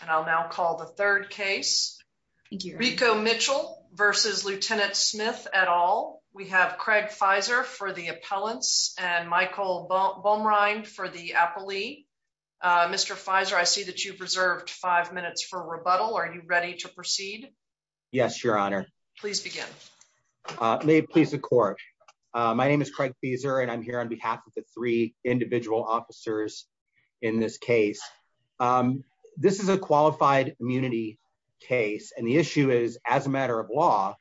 And I'll now call the third case. Rico Mitchell v. Lt. Smith et al. We have Craig Fizer for the appellants and Michael Baumrind for the appellee. Mr. Fizer, I see that you've reserved five minutes for rebuttal. Are you ready to proceed? Yes, your honor. Please begin. May it please the court. My name is Craig Fizer and I'm here on behalf of the three individual officers in this case. This is a qualified immunity case and the issue is, as a matter of law,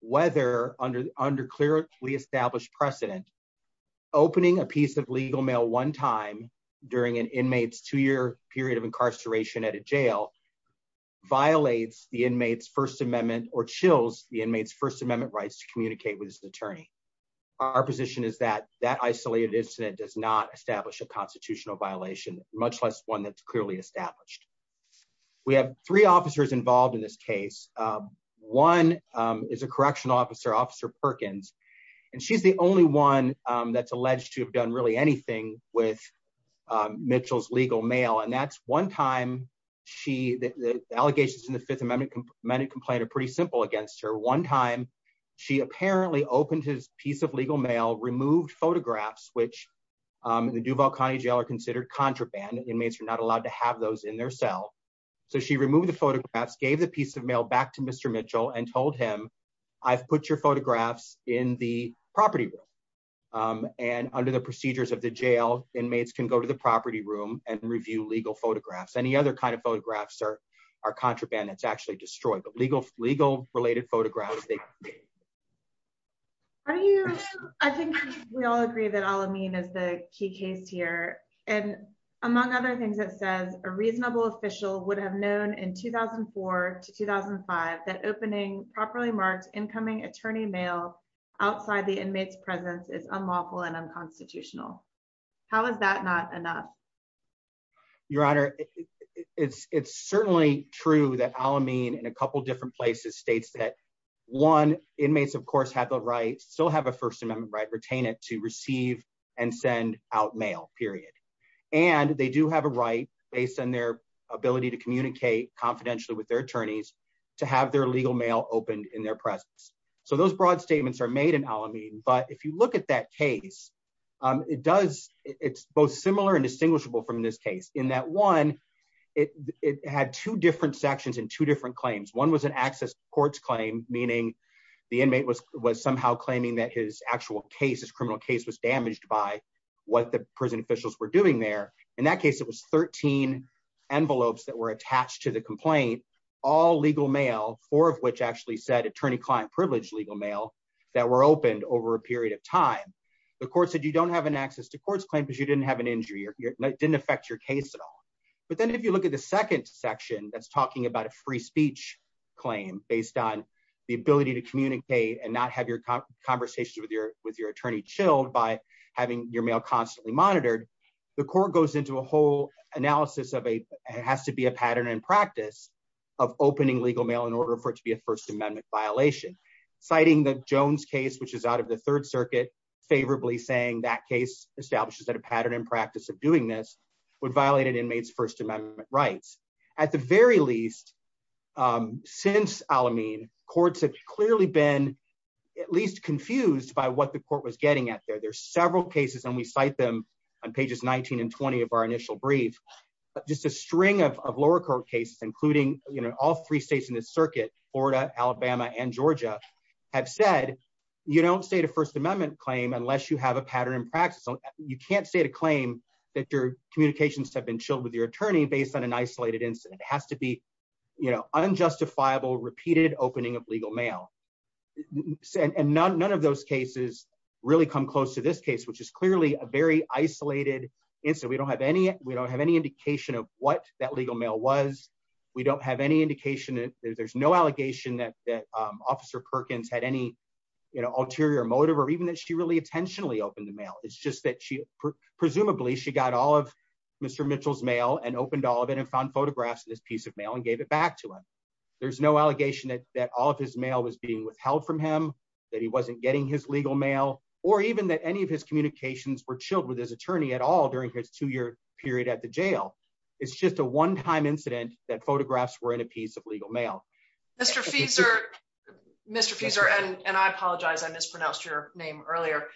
whether under clearly established precedent, opening a piece of legal mail one time during an inmate's two-year period of incarceration at a jail violates the inmate's First Amendment or chills the inmate's First Amendment rights to communicate with his constitutional violation, much less one that's clearly established. We have three officers involved in this case. One is a correctional officer, Officer Perkins, and she's the only one that's alleged to have done really anything with Mitchell's legal mail. And that's one time she, the allegations in the Fifth Amendment complaint are pretty simple against her. One time she apparently opened his piece of legal mail, removed photographs, which in the Duval County Jail are considered contraband. Inmates are not allowed to have those in their cell. So she removed the photographs, gave the piece of mail back to Mr. Mitchell and told him, I've put your photographs in the property room. And under the procedures of the jail, inmates can go to the property room and review legal photographs. Any other kind of photographs are contraband that's actually destroyed, but legal related photographs. I think we all agree that Al-Amin is the key case here. And among other things, it says a reasonable official would have known in 2004 to 2005, that opening properly marked incoming attorney mail outside the inmate's presence is unlawful and unconstitutional. How is that not enough? Your Honor, it's certainly true that Al-Amin in a couple of different places states that one inmates of course have the right, still have a First Amendment right, retain it to receive and send out mail period. And they do have a right based on their ability to communicate confidentially with their attorneys to have their legal mail opened in their presence. So those this case in that one, it had two different sections and two different claims. One was an access to courts claim, meaning the inmate was somehow claiming that his actual case, his criminal case was damaged by what the prison officials were doing there. In that case, it was 13 envelopes that were attached to the complaint, all legal mail, four of which actually said attorney client privilege legal mail that were opened over a period of time. The court said, you don't have an access to courts claim because you didn't have an injury or it didn't affect your case at all. But then if you look at the second section, that's talking about a free speech claim based on the ability to communicate and not have your conversations with your attorney chilled by having your mail constantly monitored. The court goes into a whole analysis of a, it has to be a pattern and practice of opening legal mail in order for it to be a First Amendment violation. Citing the Jones case, which is out of the Third Circuit, favorably saying that case establishes that a pattern and practice of doing this would violate an inmate's First Amendment rights. At the very least, since Al-Amin, courts have clearly been at least confused by what the court was getting at there. There's several cases and we cite them on pages 19 and 20 of our initial brief, but just a string of lower court cases, including all three states in this circuit, Florida, Alabama, and Georgia, have said, you don't state a First Amendment claim unless you have a pattern and practice. You can't state a claim that your communications have been chilled with your attorney based on an isolated incident. It has to be unjustifiable, repeated opening of legal mail. And none of those cases really come close to this case, which is clearly a very isolated incident. We don't have any indication of what that legal mail was. We don't have any indication, there's no allegation that Officer Perkins had any ulterior motive or even that she really intentionally opened the mail. It's just that presumably she got all of Mr. Mitchell's mail and opened all of it and found photographs of this piece of mail and gave it back to him. There's no allegation that all of his mail was being withheld from him, that he wasn't getting his legal mail, or even that any of his communications were chilled with his attorney at all during his two-year period at the jail. It's just a one-time incident that photographs were in a piece of legal mail. Mr. Fieser, Mr. Fieser, and I apologize I mispronounced your name earlier,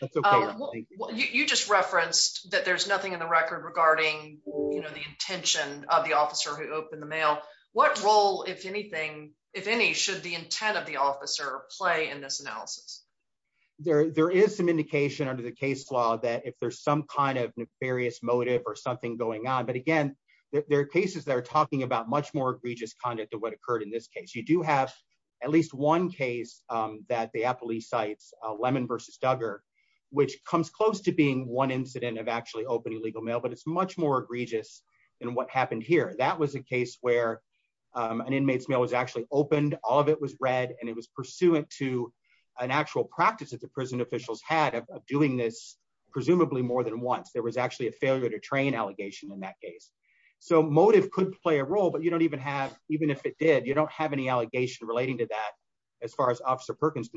you just referenced that there's nothing in the record regarding, you know, the intention of the officer who opened the mail. What role, if anything, if any, should the intent of the officer play in this analysis? There is some indication under the case law that if there's some kind of nefarious motive or something going on, but again there are cases that are talking about much more egregious conduct of what occurred in this case. You do have at least one case that the APPLI cites, Lemon v. Duggar, which comes close to being one incident of actually opening legal mail, but it's much more egregious than what happened here. That was a case where an inmate's mail was actually opened, all of it was read, and it was pursuant to an actual practice that the prison officials had of doing this presumably more than once. There was actually a failure to train allegation in that case. So motive could play a role, but you don't even have, even if it did, you don't have any allegation relating to that as far as Officer Perkins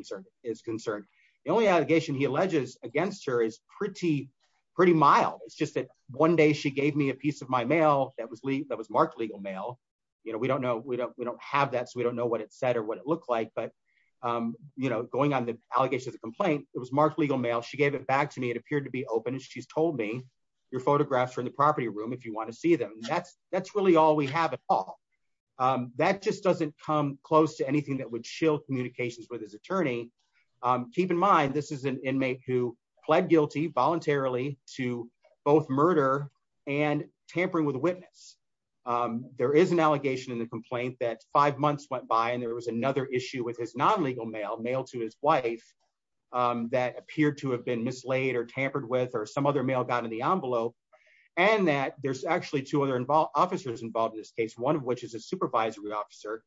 is concerned. The only allegation he alleges against her is pretty mild. It's just that one day she gave me a piece of my mail that was marked legal mail. You know, we don't know, we don't have that, so we don't know what it said or what it looked like, but you know, going on the allegations of the complaint, it was marked legal mail. She gave it back to me, it appeared to be open, and she's told me your photographs are in the property room if you want to see them. That's really all we have at all. That just doesn't come close to anything that would shield communications with his attorney. Keep in mind, this is an inmate who pled guilty voluntarily to both murder and tampering with witness. There is an allegation in the complaint that five months went by and there was another issue with his non-legal mail, mail to his wife, that appeared to have been mislaid or tampered with or some other mail got in the envelope, and that there's actually two other officers involved in this case, one of which is a supervisory officer,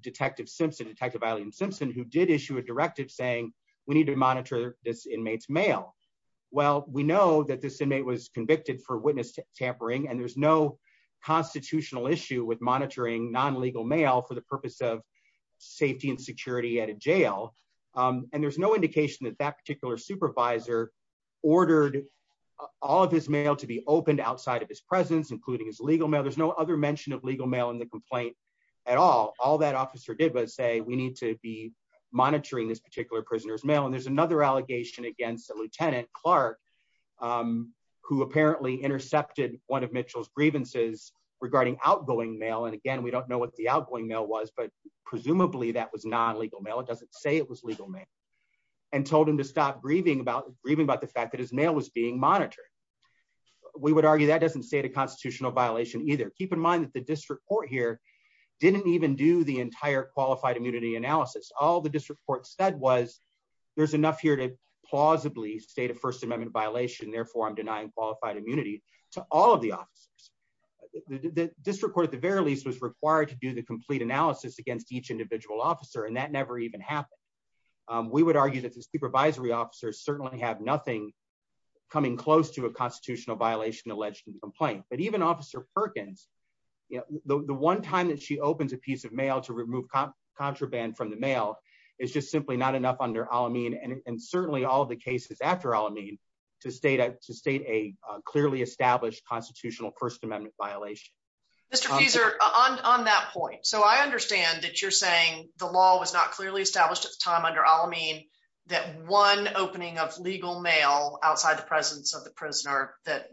Detective Simpson, Detective Eileen Simpson, who did issue a directive saying we need to monitor this inmate's mail. Well, we know that this inmate was convicted for witness tampering, and there's no constitutional issue with monitoring non-legal mail for the purpose of safety and security at a jail, and there's no indication that that particular supervisor ordered all of his mail to be opened outside of his presence, including his legal mail. There's no other mention of legal mail in the complaint at all. All that officer did was say we need to be monitoring this particular prisoner's mail, and there's another allegation against a Lieutenant Clark, who apparently intercepted one of Mitchell's grievances regarding outgoing mail, and again, we don't know what the outgoing mail was, but he told him to stop grieving about the fact that his mail was being monitored. We would argue that doesn't state a constitutional violation either. Keep in mind that the district court here didn't even do the entire qualified immunity analysis. All the district court said was there's enough here to plausibly state a First Amendment violation, therefore I'm denying qualified immunity to all of the officers. The district court, at the very least, was required to do the complete analysis against each individual officer, and that never even happened. We would argue that the supervisory officers certainly have nothing coming close to a constitutional violation alleged in the complaint, but even Officer Perkins, the one time that she opens a piece of mail to remove contraband from the mail is just simply not enough under Al-Amin, and certainly all of the cases after Al-Amin to state a clearly established constitutional First Amendment violation. Mr. Fieser, on that point, so I Al-Amin that one opening of legal mail outside the presence of the prisoner that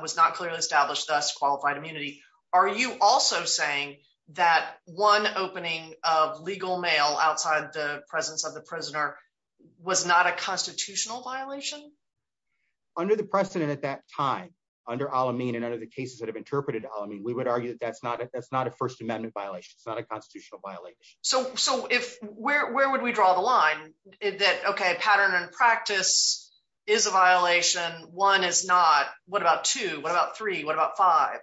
was not clearly established, thus qualified immunity. Are you also saying that one opening of legal mail outside the presence of the prisoner was not a constitutional violation? Under the precedent at that time, under Al-Amin and under the cases that have interpreted Al-Amin, we would argue that that's not a First Amendment violation. It's not a constitutional violation. So where would we draw the line that, okay, pattern and practice is a violation, one is not, what about two, what about three, what about five?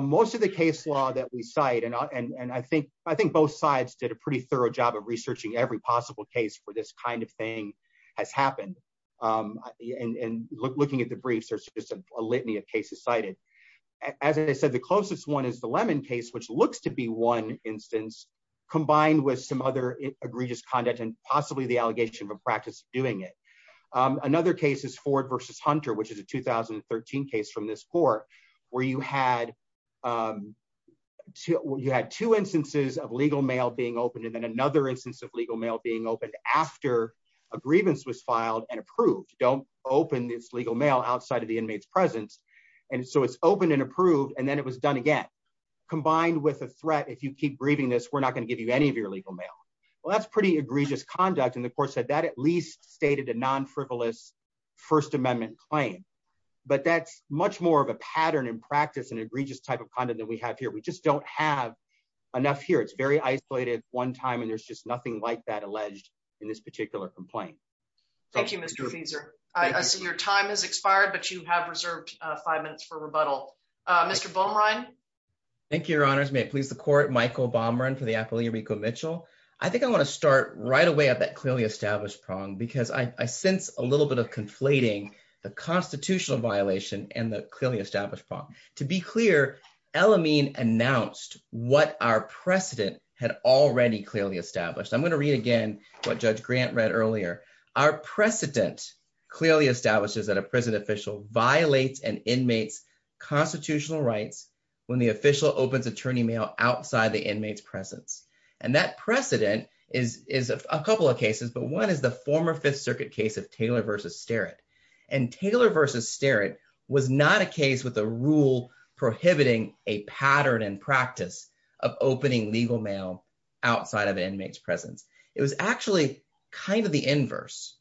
Most of the case law that we cite, and I think both sides did a pretty thorough job of researching every possible case for this kind of thing has happened, and looking at the briefs, there's just a litany of cases cited. As I said, the closest one is the Lemon case, which looks to be one instance, combined with some other egregious conduct and possibly the allegation of a practice of doing it. Another case is Ford v. Hunter, which is a 2013 case from this court, where you had two instances of legal mail being opened and then another instance of legal mail being opened after a grievance was filed and approved. Don't open this legal mail outside of the inmate's presence. And so it's opened and approved, and then it was combined with a threat, if you keep breathing this, we're not going to give you any of your legal mail. Well, that's pretty egregious conduct, and the court said that at least stated a non-frivolous First Amendment claim. But that's much more of a pattern and practice and egregious type of conduct than we have here. We just don't have enough here. It's very isolated at one time, and there's just nothing like that alleged in this particular complaint. Thank you, Mr. Fieser. I see your time has expired, but you have reserved five minutes for rebuttal. Mr. Baumrein. Thank you, Your Honors. May it please the court, Michael Baumrein for the Apollo Rico Mitchell. I think I want to start right away at that clearly established prong, because I sense a little bit of conflating the constitutional violation and the clearly established prong. To be clear, El Amin announced what our precedent had already clearly established. I'm going to read again what Judge Grant read earlier. Our precedent clearly establishes that a prison official violates an inmate's constitutional rights when the official opens attorney mail outside the inmate's presence. And that precedent is a couple of cases, but one is the former Fifth Circuit case of Taylor v. Starrett. And Taylor v. Starrett was not a case with a rule prohibiting a pattern and practice of opening legal mail outside of an inmate's presence. It was actually kind of the inverse.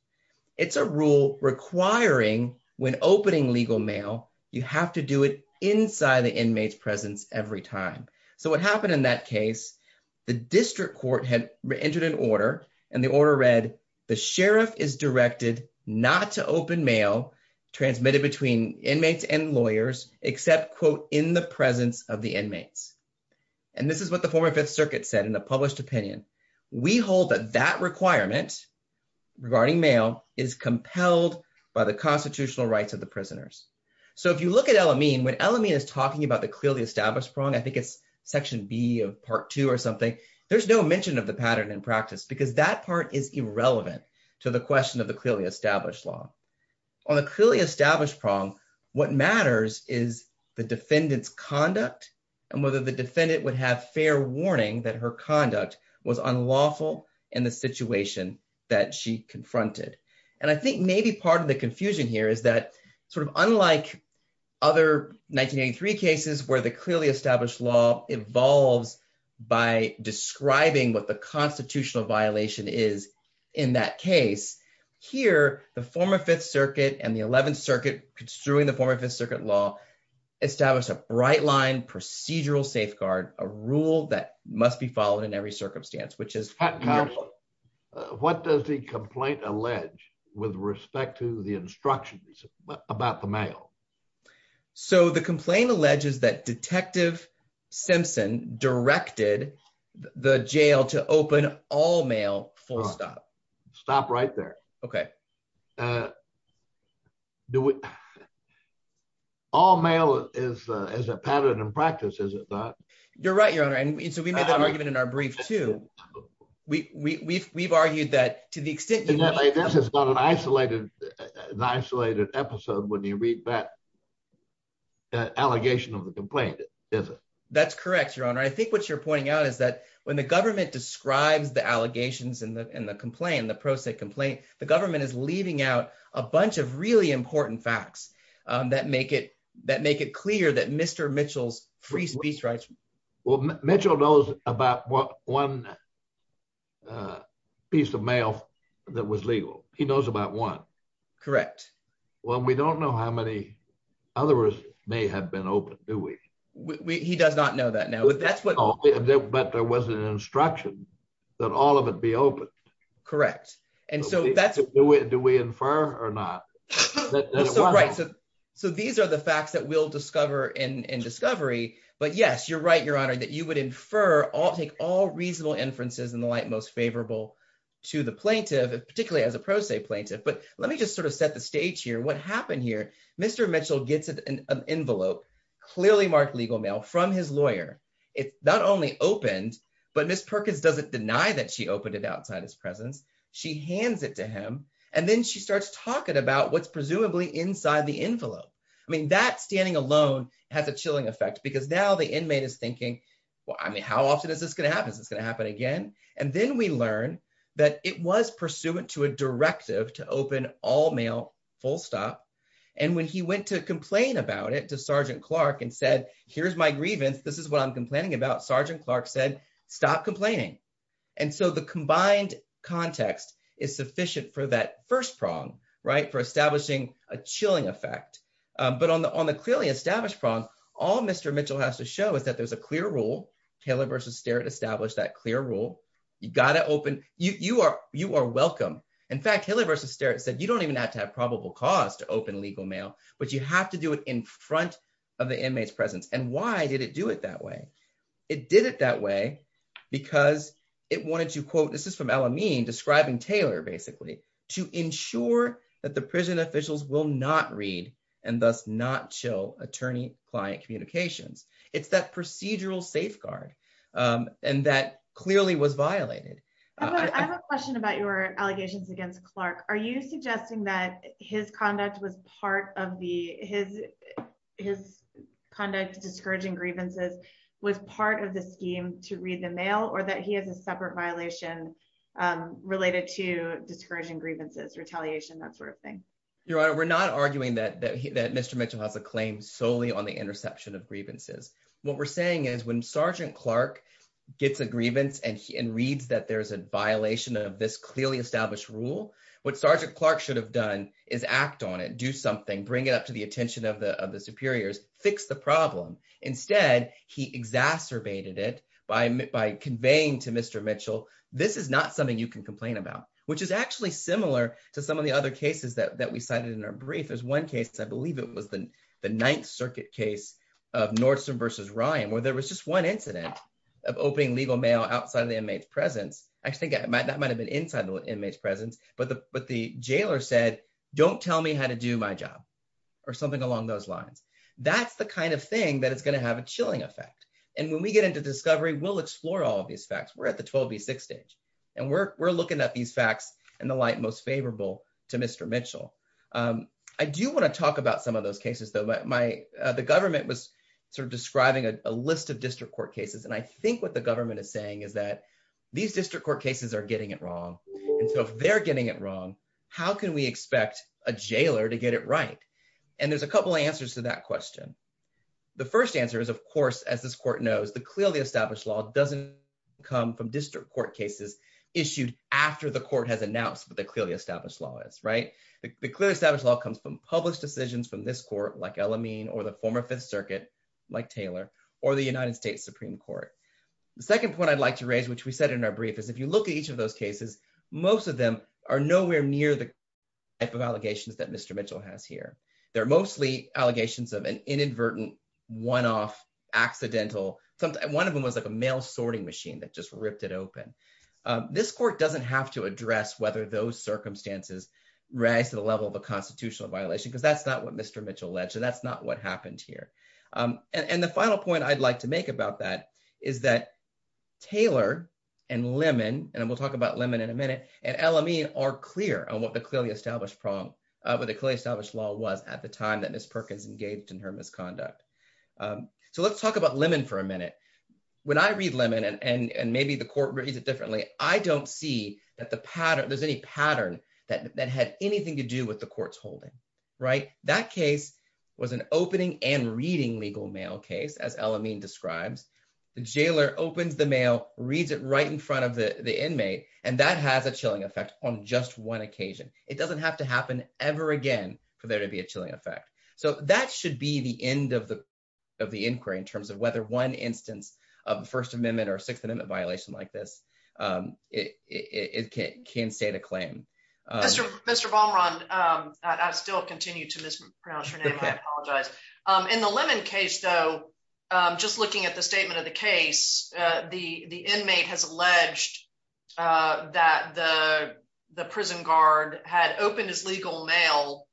It's a rule requiring when opening legal mail, you have to do it inside the inmate's presence every time. So what happened in that case, the district court had entered an order, and the order read, the sheriff is directed not to open mail transmitted between inmates and this is what the former Fifth Circuit said in a published opinion. We hold that that requirement regarding mail is compelled by the constitutional rights of the prisoners. So if you look at El Amin, when El Amin is talking about the clearly established prong, I think it's section B of part two or something, there's no mention of the pattern in practice, because that part is irrelevant to the question of the clearly established law. On the clearly established prong, what matters is the defendant's conduct and whether the defendant would have fair warning that her conduct was unlawful in the situation that she confronted. And I think maybe part of the confusion here is that sort of unlike other 1983 cases, where the clearly established law evolves by describing what the constitutional violation is in that case. Here, the former Fifth Circuit and the Eleventh Circuit, construing the former Fifth Circuit law, establish a bright line procedural safeguard, a rule that must be followed in every circumstance. What does the complaint allege with respect to the instructions about the mail? So the complaint alleges that Detective Simpson directed the jail to open all mail full stop. Stop right there. Okay. All mail is a pattern in practice, is it not? You're right, Your Honor. And so we made that argument in our brief, too. We've argued that to the extent that- This is not an isolated episode when you read that allegation of the complaint, is it? That's correct, Your Honor. I think what you're pointing out is that when the government describes the allegations and the complaint, the pro se complaint, the government is leaving out a bunch of really important facts that make it clear that Mr. Mitchell's free speech rights- Well, Mitchell knows about one piece of mail that was legal. He knows about one. Correct. Well, we don't know how many others may have been open, do we? He does not know that now. But there was an instruction that all of it be open. Correct. And so that's- Do we infer or not? So these are the facts that we'll discover in discovery. But yes, you're right, Your Honor, that you would infer, take all reasonable inferences in the light most favorable to the plaintiff, particularly as a pro se plaintiff. But let me just sort of set the stage here. What happened here? Mr. Mitchell gets an envelope, clearly marked legal mail, from his lawyer. It's not only opened, but Ms. Perkins doesn't deny that she opened it outside his presence. She hands it to him. And then she starts talking about what's presumably inside the envelope. I mean, that standing alone has a chilling effect because now the inmate is thinking, well, I mean, how often is this going to happen? Is this going to happen again? And then we learn that it was pursuant to a directive to open all mail full stop. And when he went to complain about it to Sergeant Clark and said, here's my grievance, this is what I'm complaining about, Sergeant Clark said, stop complaining. And so the combined context is sufficient for that first prong, right, for establishing a chilling effect. But on the clearly established prong, all Mr. Mitchell has to show is that there's a clear rule. Haley v. Sterritt established that clear rule. You got to open- you are welcome. In fact, Haley v. Sterritt said, you don't even have to have probable cause to open legal mail, but you have to do it in front of the inmate's presence. And why did it do it that way? It did it that way because it wanted to quote, this is from El Amin describing Taylor, basically, to ensure that the prison officials will not read and thus not chill attorney-client communications. It's that procedural safeguard. And that clearly was violated. I have a question about your allegations against Clark. Are you suggesting that his conduct was part of the- his conduct discouraging grievances was part of the scheme to read the mail or that he has a separate violation related to discouraging grievances, retaliation, that sort of thing? Your Honor, we're not arguing that Mr. Mitchell has a claim solely on the interception of grievances. What we're saying is when Sergeant Clark gets a grievance and reads that there's a violation of this clearly established rule, what Sergeant Clark should have done is act on it, do something, bring it up to the attention of the superiors, fix the problem. Instead, he exacerbated it by conveying to Mr. Mitchell, this is not something you can complain about, which is actually similar to some of the other cases that we cited in our brief. There's one case, I believe it was the Ninth Circuit case of Nordstrom versus Ryan, where there was just one incident of opening legal mail outside of the inmate's presence. Actually, that might have been inside the inmate's presence, but the jailer said, don't tell me how to do my job or something along those lines. That's the kind of thing that is going to have a chilling effect. And when we get into discovery, we'll explore all of these facts. We're at the 12B6 stage and we're looking at these facts in the light most favorable to Mr. Mitchell. I do want to talk about some of those cases, though. The government was sort of describing a list of district court cases. And I think what the government is saying is that these district court cases are getting it wrong. And so if they're getting it wrong, how can we expect a jailer to get it right? And there's a couple of answers to that question. The first answer is, of course, as this court knows, the clearly established law doesn't come from district court cases issued after the court has announced what the clearly established law is, right? The clearly established law comes from published decisions from this court, like El Amin or the former Fifth Circuit, like Taylor, or the United States Supreme Court. The second point I'd like to raise, which we said in our brief, is if you look at each of those cases, most of them are nowhere near the type of allegations that Mr. Mitchell has here. They're mostly allegations of an inadvertent, one-off, accidental. One of them was like a mail sorting machine that just ripped it open. This court doesn't have to address whether those circumstances rise to the level of a constitutional violation, because that's not what Mr. Mitchell alleged. So that's not what happened here. And the final point I'd like to make about that is that Taylor and Lemon, and we'll talk about Lemon in a minute, and El Amin are clear on what the clearly established law was at the time that Ms. Perkins engaged in her misconduct. So let's talk about Lemon for a minute. When I read Lemon, and maybe the court reads it differently, I don't see that there's any pattern that had anything to do with the court's holding, right? That case was an opening and reading legal mail case, as El Amin describes. The jailer opens the mail, reads it right in front of the inmate, and that has a chilling effect on just one occasion. It doesn't have to happen ever again for there to be a chilling effect. So that should be the end of the inquiry in terms of whether one instance of the First Amendment or Sixth Amendment violation like this, it can state a claim. Mr. Ballmeron, I still continue to mispronounce your name, I apologize. In the Lemon case though, just looking at the statement of the case, the inmate has alleged that the prison guard had opened his legal mail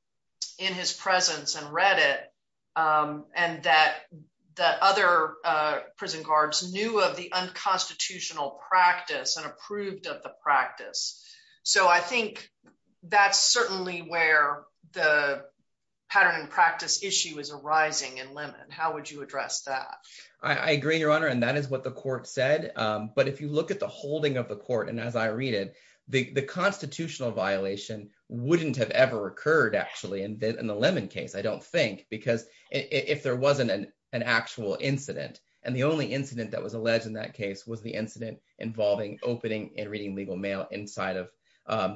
in his presence and read it, and that other prison guards knew of the unconstitutional practice and approved of the practice. So I think that's certainly where the pattern and practice issue is arising in Lemon. How would you address that? I agree, Your Honor, and that is what the court said. But if you look at the holding of the court, as I read it, the constitutional violation wouldn't have ever occurred actually in the Lemon case, I don't think, because if there wasn't an actual incident, and the only incident that was alleged in that case was the incident involving opening and reading legal mail inside of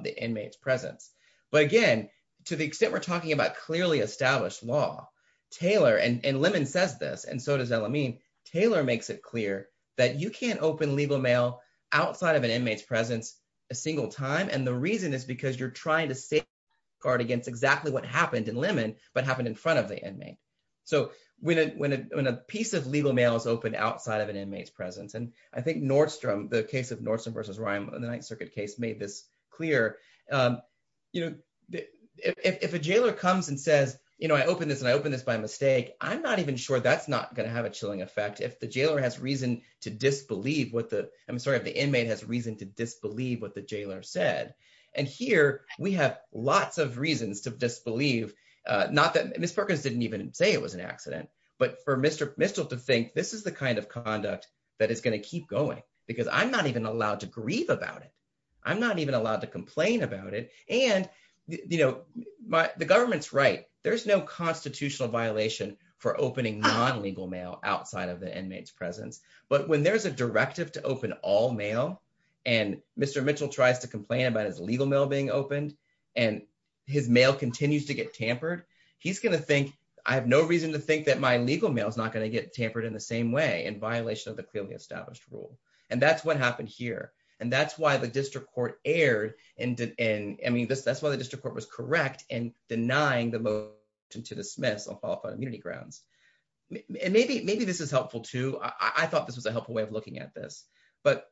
the inmate's presence. But again, to the extent we're talking about clearly established law, Taylor, and Lemon says this, and so does El-Amin, Taylor makes it clear that you can't open legal mail outside of an inmate's presence a single time, and the reason is because you're trying to safeguard against exactly what happened in Lemon, but happened in front of the inmate. So when a piece of legal mail is opened outside of an inmate's presence, and I think Nordstrom, the case of Nordstrom versus Ryan in the Ninth Circuit case made this clear, you know, if a jailer comes and says, you know, I opened this and I opened this by mistake, I'm not even sure that's going to have a chilling effect if the jailer has reason to disbelieve what the, I'm sorry, if the inmate has reason to disbelieve what the jailer said. And here we have lots of reasons to disbelieve, not that Ms. Perkins didn't even say it was an accident, but for Mr. Mistel to think this is the kind of conduct that is going to keep going, because I'm not even allowed to grieve about it, I'm not even allowed to complain about it, and, you know, the government's right, there's no constitutional violation for opening non-legal mail outside of the inmate's presence. But when there's a directive to open all mail, and Mr. Mistel tries to complain about his legal mail being opened, and his mail continues to get tampered, he's going to think, I have no reason to think that my legal mail is not going to get tampered in the same way, in violation of the clearly established rule. And that's what happened here. And that's why the district court erred, and I mean, that's why the district court was correct in denying the motion to dismiss on qualified immunity grounds. And maybe this is helpful, too. I thought this was a helpful way of looking at this. But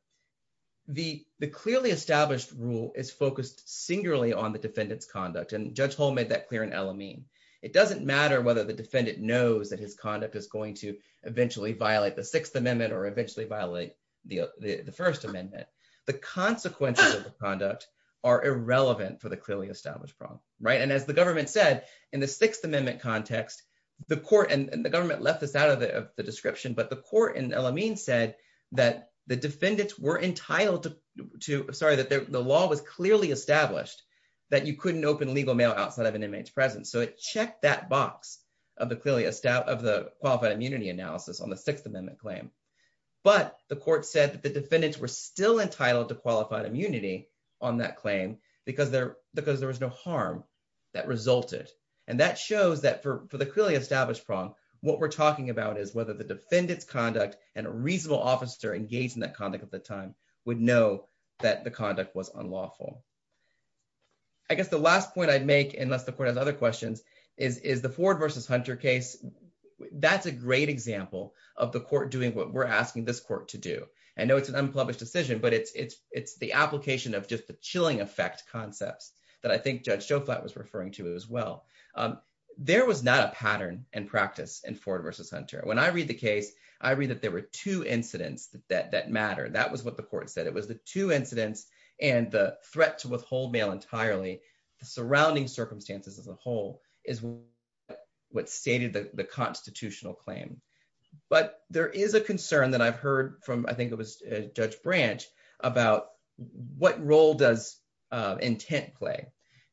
the clearly established rule is focused singularly on the defendant's conduct. And Judge Hull made that clear in El Amin. It doesn't matter whether the defendant knows that his conduct is going to eventually violate the Sixth Amendment or eventually violate the First Amendment. The consequences of the conduct are irrelevant for the clearly established problem, right? And as the government said, in the Sixth Amendment context, the court and the government left this out of the description, but the court in El Amin said that the defendants were entitled to, sorry, that the law was clearly established, that you couldn't open legal mail outside of an inmate's presence. So it checked that box of the qualified immunity analysis on Sixth Amendment claim. But the court said that the defendants were still entitled to qualified immunity on that claim because there was no harm that resulted. And that shows that for the clearly established problem, what we're talking about is whether the defendant's conduct and a reasonable officer engaged in that conduct at the time would know that the conduct was unlawful. I guess the last point I'd make, unless the court has other questions, is the Ford versus Hunter case. That's a great example of the court doing what we're asking this court to do. I know it's an unpublished decision, but it's the application of just the chilling effect concepts that I think Judge Joflat was referring to as well. There was not a pattern and practice in Ford versus Hunter. When I read the case, I read that there were two incidents that matter. That was what the court said. It was the two incidents and the threat to withhold mail entirely, the surrounding circumstances as a whole, is what stated the constitutional claim. But there is a concern that I've heard from, I think it was Judge Branch, about what role does intent play.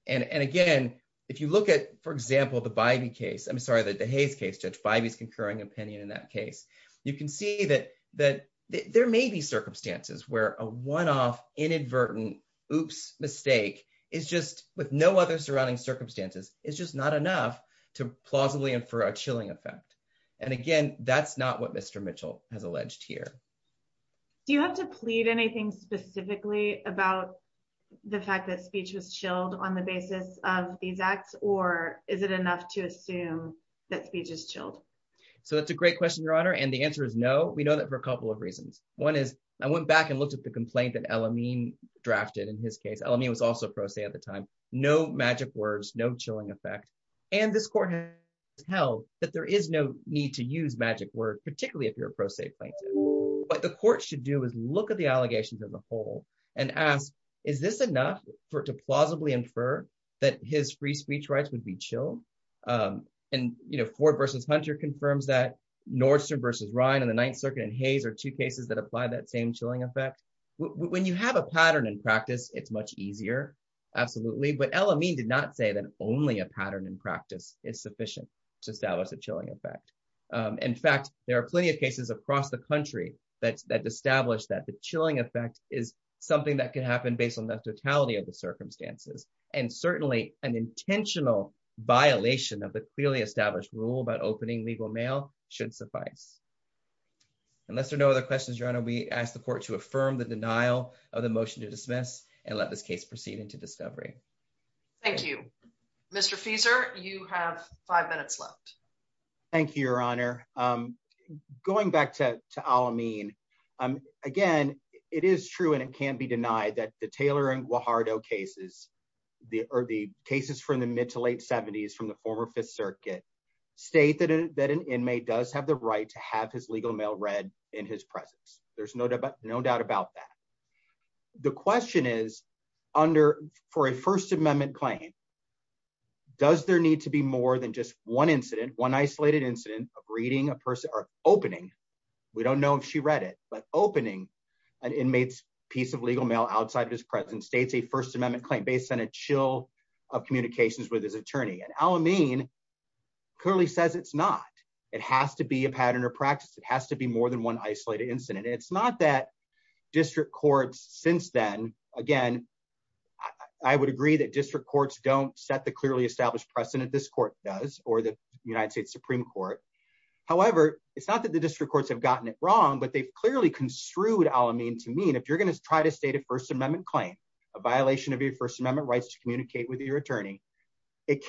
And again, if you look at, for example, the Bivey case, I'm sorry, the Hayes case, Judge Bivey's concurring opinion in that case, you can see that there may be circumstances where a one-off inadvertent oops mistake is just, with no other surrounding circumstances, is just not enough to plausibly infer a chilling effect. And again, that's not what Mr. Mitchell has alleged here. Do you have to plead anything specifically about the fact that speech was chilled on the basis of these acts, or is it enough to assume that speech is chilled? So that's a great question, Your Honor. And the answer is no. We know that for a couple of reasons. One is, I went back and looked at the complaint that El-Amin drafted in his case. El-Amin was also pro se at the time. No magic words, no chilling effect. And this court has held that there is no need to use magic word, particularly if you're a pro se plaintiff. What the court should do is look at the allegations as a whole and ask, is this enough for it to plausibly infer that his free speech rights would be chilled? And Ford versus Hunter confirms that. Apply that same chilling effect. When you have a pattern in practice, it's much easier. Absolutely. But El-Amin did not say that only a pattern in practice is sufficient to establish a chilling effect. In fact, there are plenty of cases across the country that established that the chilling effect is something that can happen based on the totality of the circumstances. And certainly an intentional violation of the clearly established rule about opening legal should suffice. Unless there are no other questions, Your Honor, we ask the court to affirm the denial of the motion to dismiss and let this case proceed into discovery. Thank you. Mr. Fieser, you have five minutes left. Thank you, Your Honor. Going back to El-Amin, again, it is true and it can't be denied that the Taylor and Guajardo cases or the cases from the mid to late 70s from the former Fifth Circuit state that an inmate does have the right to have his legal mail read in his presence. There's no doubt about that. The question is, for a First Amendment claim, does there need to be more than just one incident, one isolated incident of reading a person or opening, we don't know if she read it, but opening an inmate's piece of legal mail outside of his presence states a First Amendment claim based on a chill of communications with his clearly says it's not. It has to be a pattern of practice. It has to be more than one isolated incident. It's not that district courts since then, again, I would agree that district courts don't set the clearly established precedent this court does or the United States Supreme Court. However, it's not that the district courts have gotten it wrong, but they've clearly construed El-Amin to mean if you're going to try to state a First Amendment claim, a violation of your First Amendment, it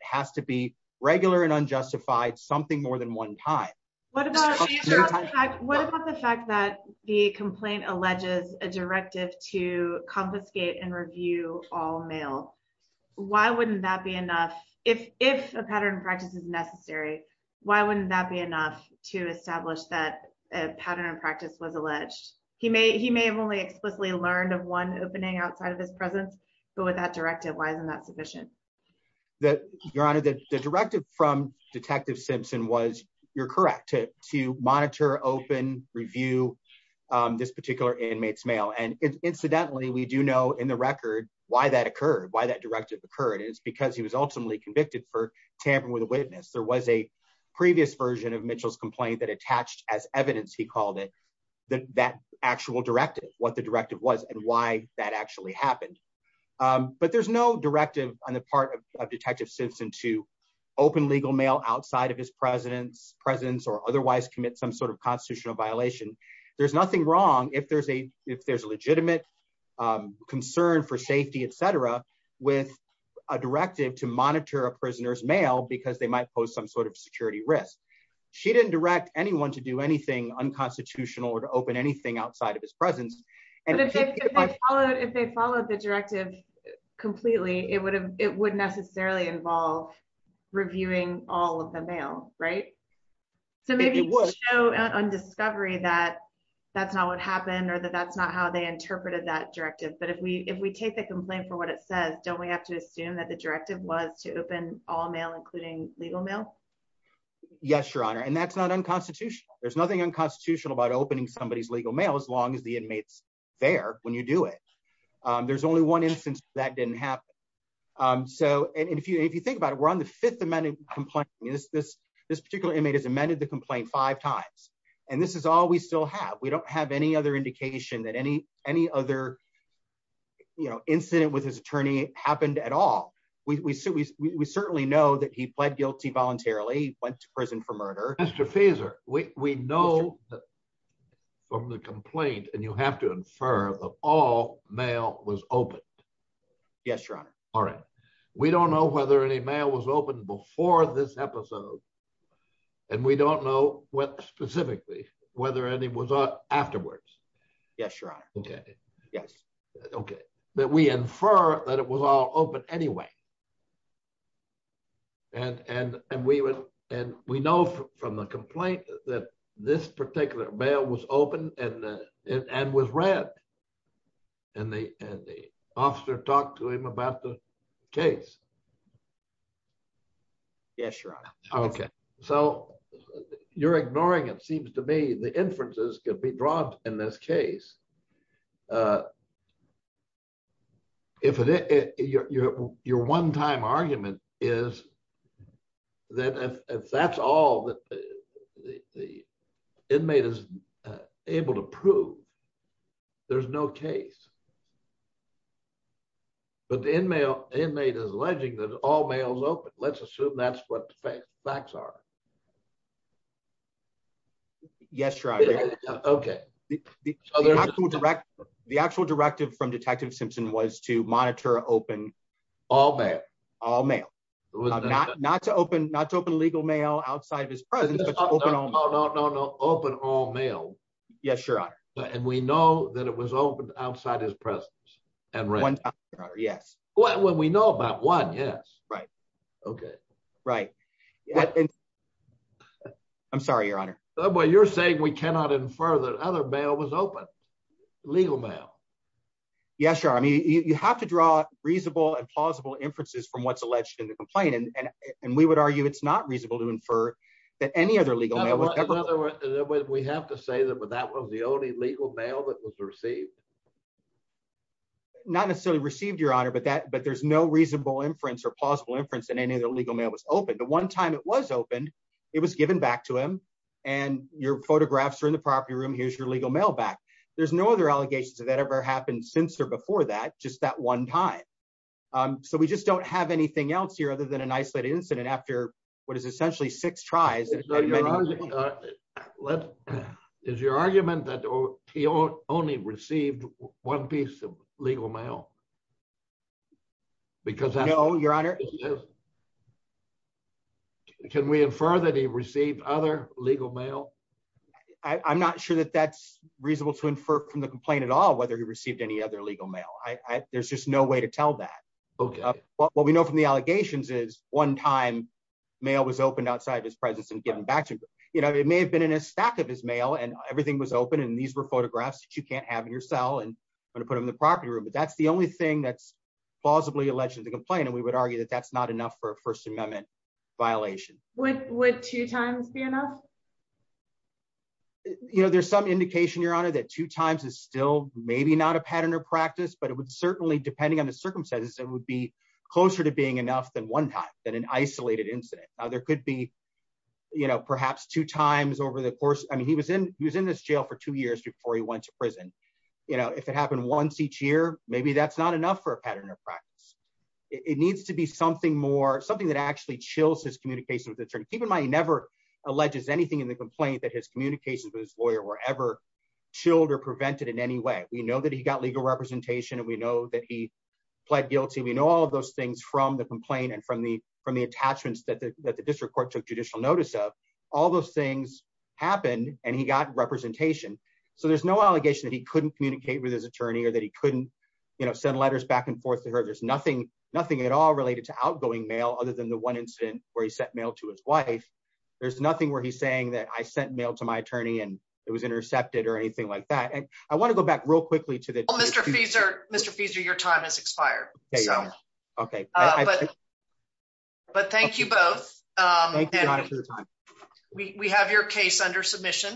has to be regular and unjustified something more than one time. What about the fact that the complaint alleges a directive to confiscate and review all mail? Why wouldn't that be enough? If a pattern of practice is necessary, why wouldn't that be enough to establish that a pattern of practice was alleged? He may have only explicitly learned of one opening outside of his presence, but with that directive, why isn't that sufficient? The directive from Detective Simpson was, you're correct, to monitor, open, review this particular inmate's mail. Incidentally, we do know in the record why that occurred, why that directive occurred. It's because he was ultimately convicted for tampering with a witness. There was a previous version of Mitchell's complaint that attached as evidence, he called it, that actual directive, what the directive was and why that actually happened. There's no directive on the part of Detective Simpson to open legal mail outside of his presence or otherwise commit some sort of constitutional violation. There's nothing wrong if there's a legitimate concern for safety, et cetera, with a directive to monitor a prisoner's mail because they might pose some sort of security risk. She didn't direct anyone to do anything unconstitutional or to open anything outside of his presence. And if they followed the directive completely, it would necessarily involve reviewing all of the mail, right? So maybe it would show on discovery that that's not what happened or that that's not how they interpreted that directive. But if we take the complaint for what it says, don't we have to assume that the directive was to open all mail, including legal mail? Yes, Your Honor. And that's not unconstitutional. There's nothing unconstitutional about opening somebody's legal mail as long as the inmates there when you do it. There's only one instance that didn't happen. So if you think about it, we're on the fifth amended complaint. This particular inmate has amended the complaint five times. And this is all we still have. We don't have any other indication that any other incident with his attorney happened at all. We certainly know that he pled guilty voluntarily, went to prison for murder. Mr. Feser, we know from the complaint and you have to infer that all mail was open. Yes, Your Honor. All right. We don't know whether any mail was open before this episode. And we don't know what specifically whether any was afterwards. Yes, Your Honor. Okay. Yes. Okay. That we infer that it was all open anyway. And we know from the complaint that this particular mail was open and was read. And the officer talked to him about the case. Yes, Your Honor. Okay. So you're ignoring it if your one time argument is that if that's all that the inmate is able to prove, there's no case. But the inmate is alleging that all mail is open. Let's assume that's what the facts are. Yes, Your Honor. Okay. The actual directive from Detective Simpson was to monitor open all mail. All mail. Not to open legal mail outside of his presence. No, no, no. Open all mail. Yes, Your Honor. And we know that it was open outside his presence. One time, Your Honor. Yes. When we know about one, yes. Right. Okay. Right. I'm sorry, Your Honor. Well, you're saying we cannot infer that other mail was open. Legal mail. Yes, Your Honor. I mean, you have to draw reasonable and plausible inferences from what's alleged in the complaint. And we would argue it's not reasonable to infer that any other legal mail was ever— In other words, we have to say that that was the only legal mail that was received. Not necessarily received, Your Honor, but there's no reasonable inference or plausible inference that any other legal mail was open. The one time it was open, it was given back to him. And your photographs are in the property room. Here's your legal mail back. There's no other allegations of that ever happened since or before that, just that one time. So we just don't have anything else here other than an isolated incident after what is essentially six tries. Is your argument that he only received one piece of legal mail? No, Your Honor. Can we infer that he received other legal mail? I'm not sure that that's reasonable to infer from the complaint at all whether he received any other legal mail. There's just no way to tell that. What we know from the allegations is one time mail was opened outside his presence and given back to him. It may have been in a stack of his mail, and everything was open, and these were photographs that you can't have in your cell and put them in the property room. But that's the only thing that's plausibly alleged in the complaint, and we would argue that that's not enough for a First Amendment violation. Would two times be enough? There's some indication, Your Honor, that two times is still maybe not a pattern or practice, but it would certainly, depending on the circumstances, it would be closer to being enough than one time, than an isolated incident. Now, there could be perhaps two times over the course. I mean, he was in this jail for two years before he went to prison. If it happened once each year, maybe that's not enough for a pattern or practice. It needs to be something more, something that actually chills his communication with the attorney. Keep in mind, he never alleges anything in the complaint that his communications with his lawyer were ever chilled or prevented in any way. We know that he got legal representation, and we know that he from the complaint and from the attachments that the district court took judicial notice of. All those things happened, and he got representation. So there's no allegation that he couldn't communicate with his attorney or that he couldn't send letters back and forth to her. There's nothing at all related to outgoing mail other than the one incident where he sent mail to his wife. There's nothing where he's saying that I sent mail to my attorney and it was intercepted or anything like that. And I want to go back real quickly to the- Mr. Fieser, your time has expired. But thank you both. We have your case under submission.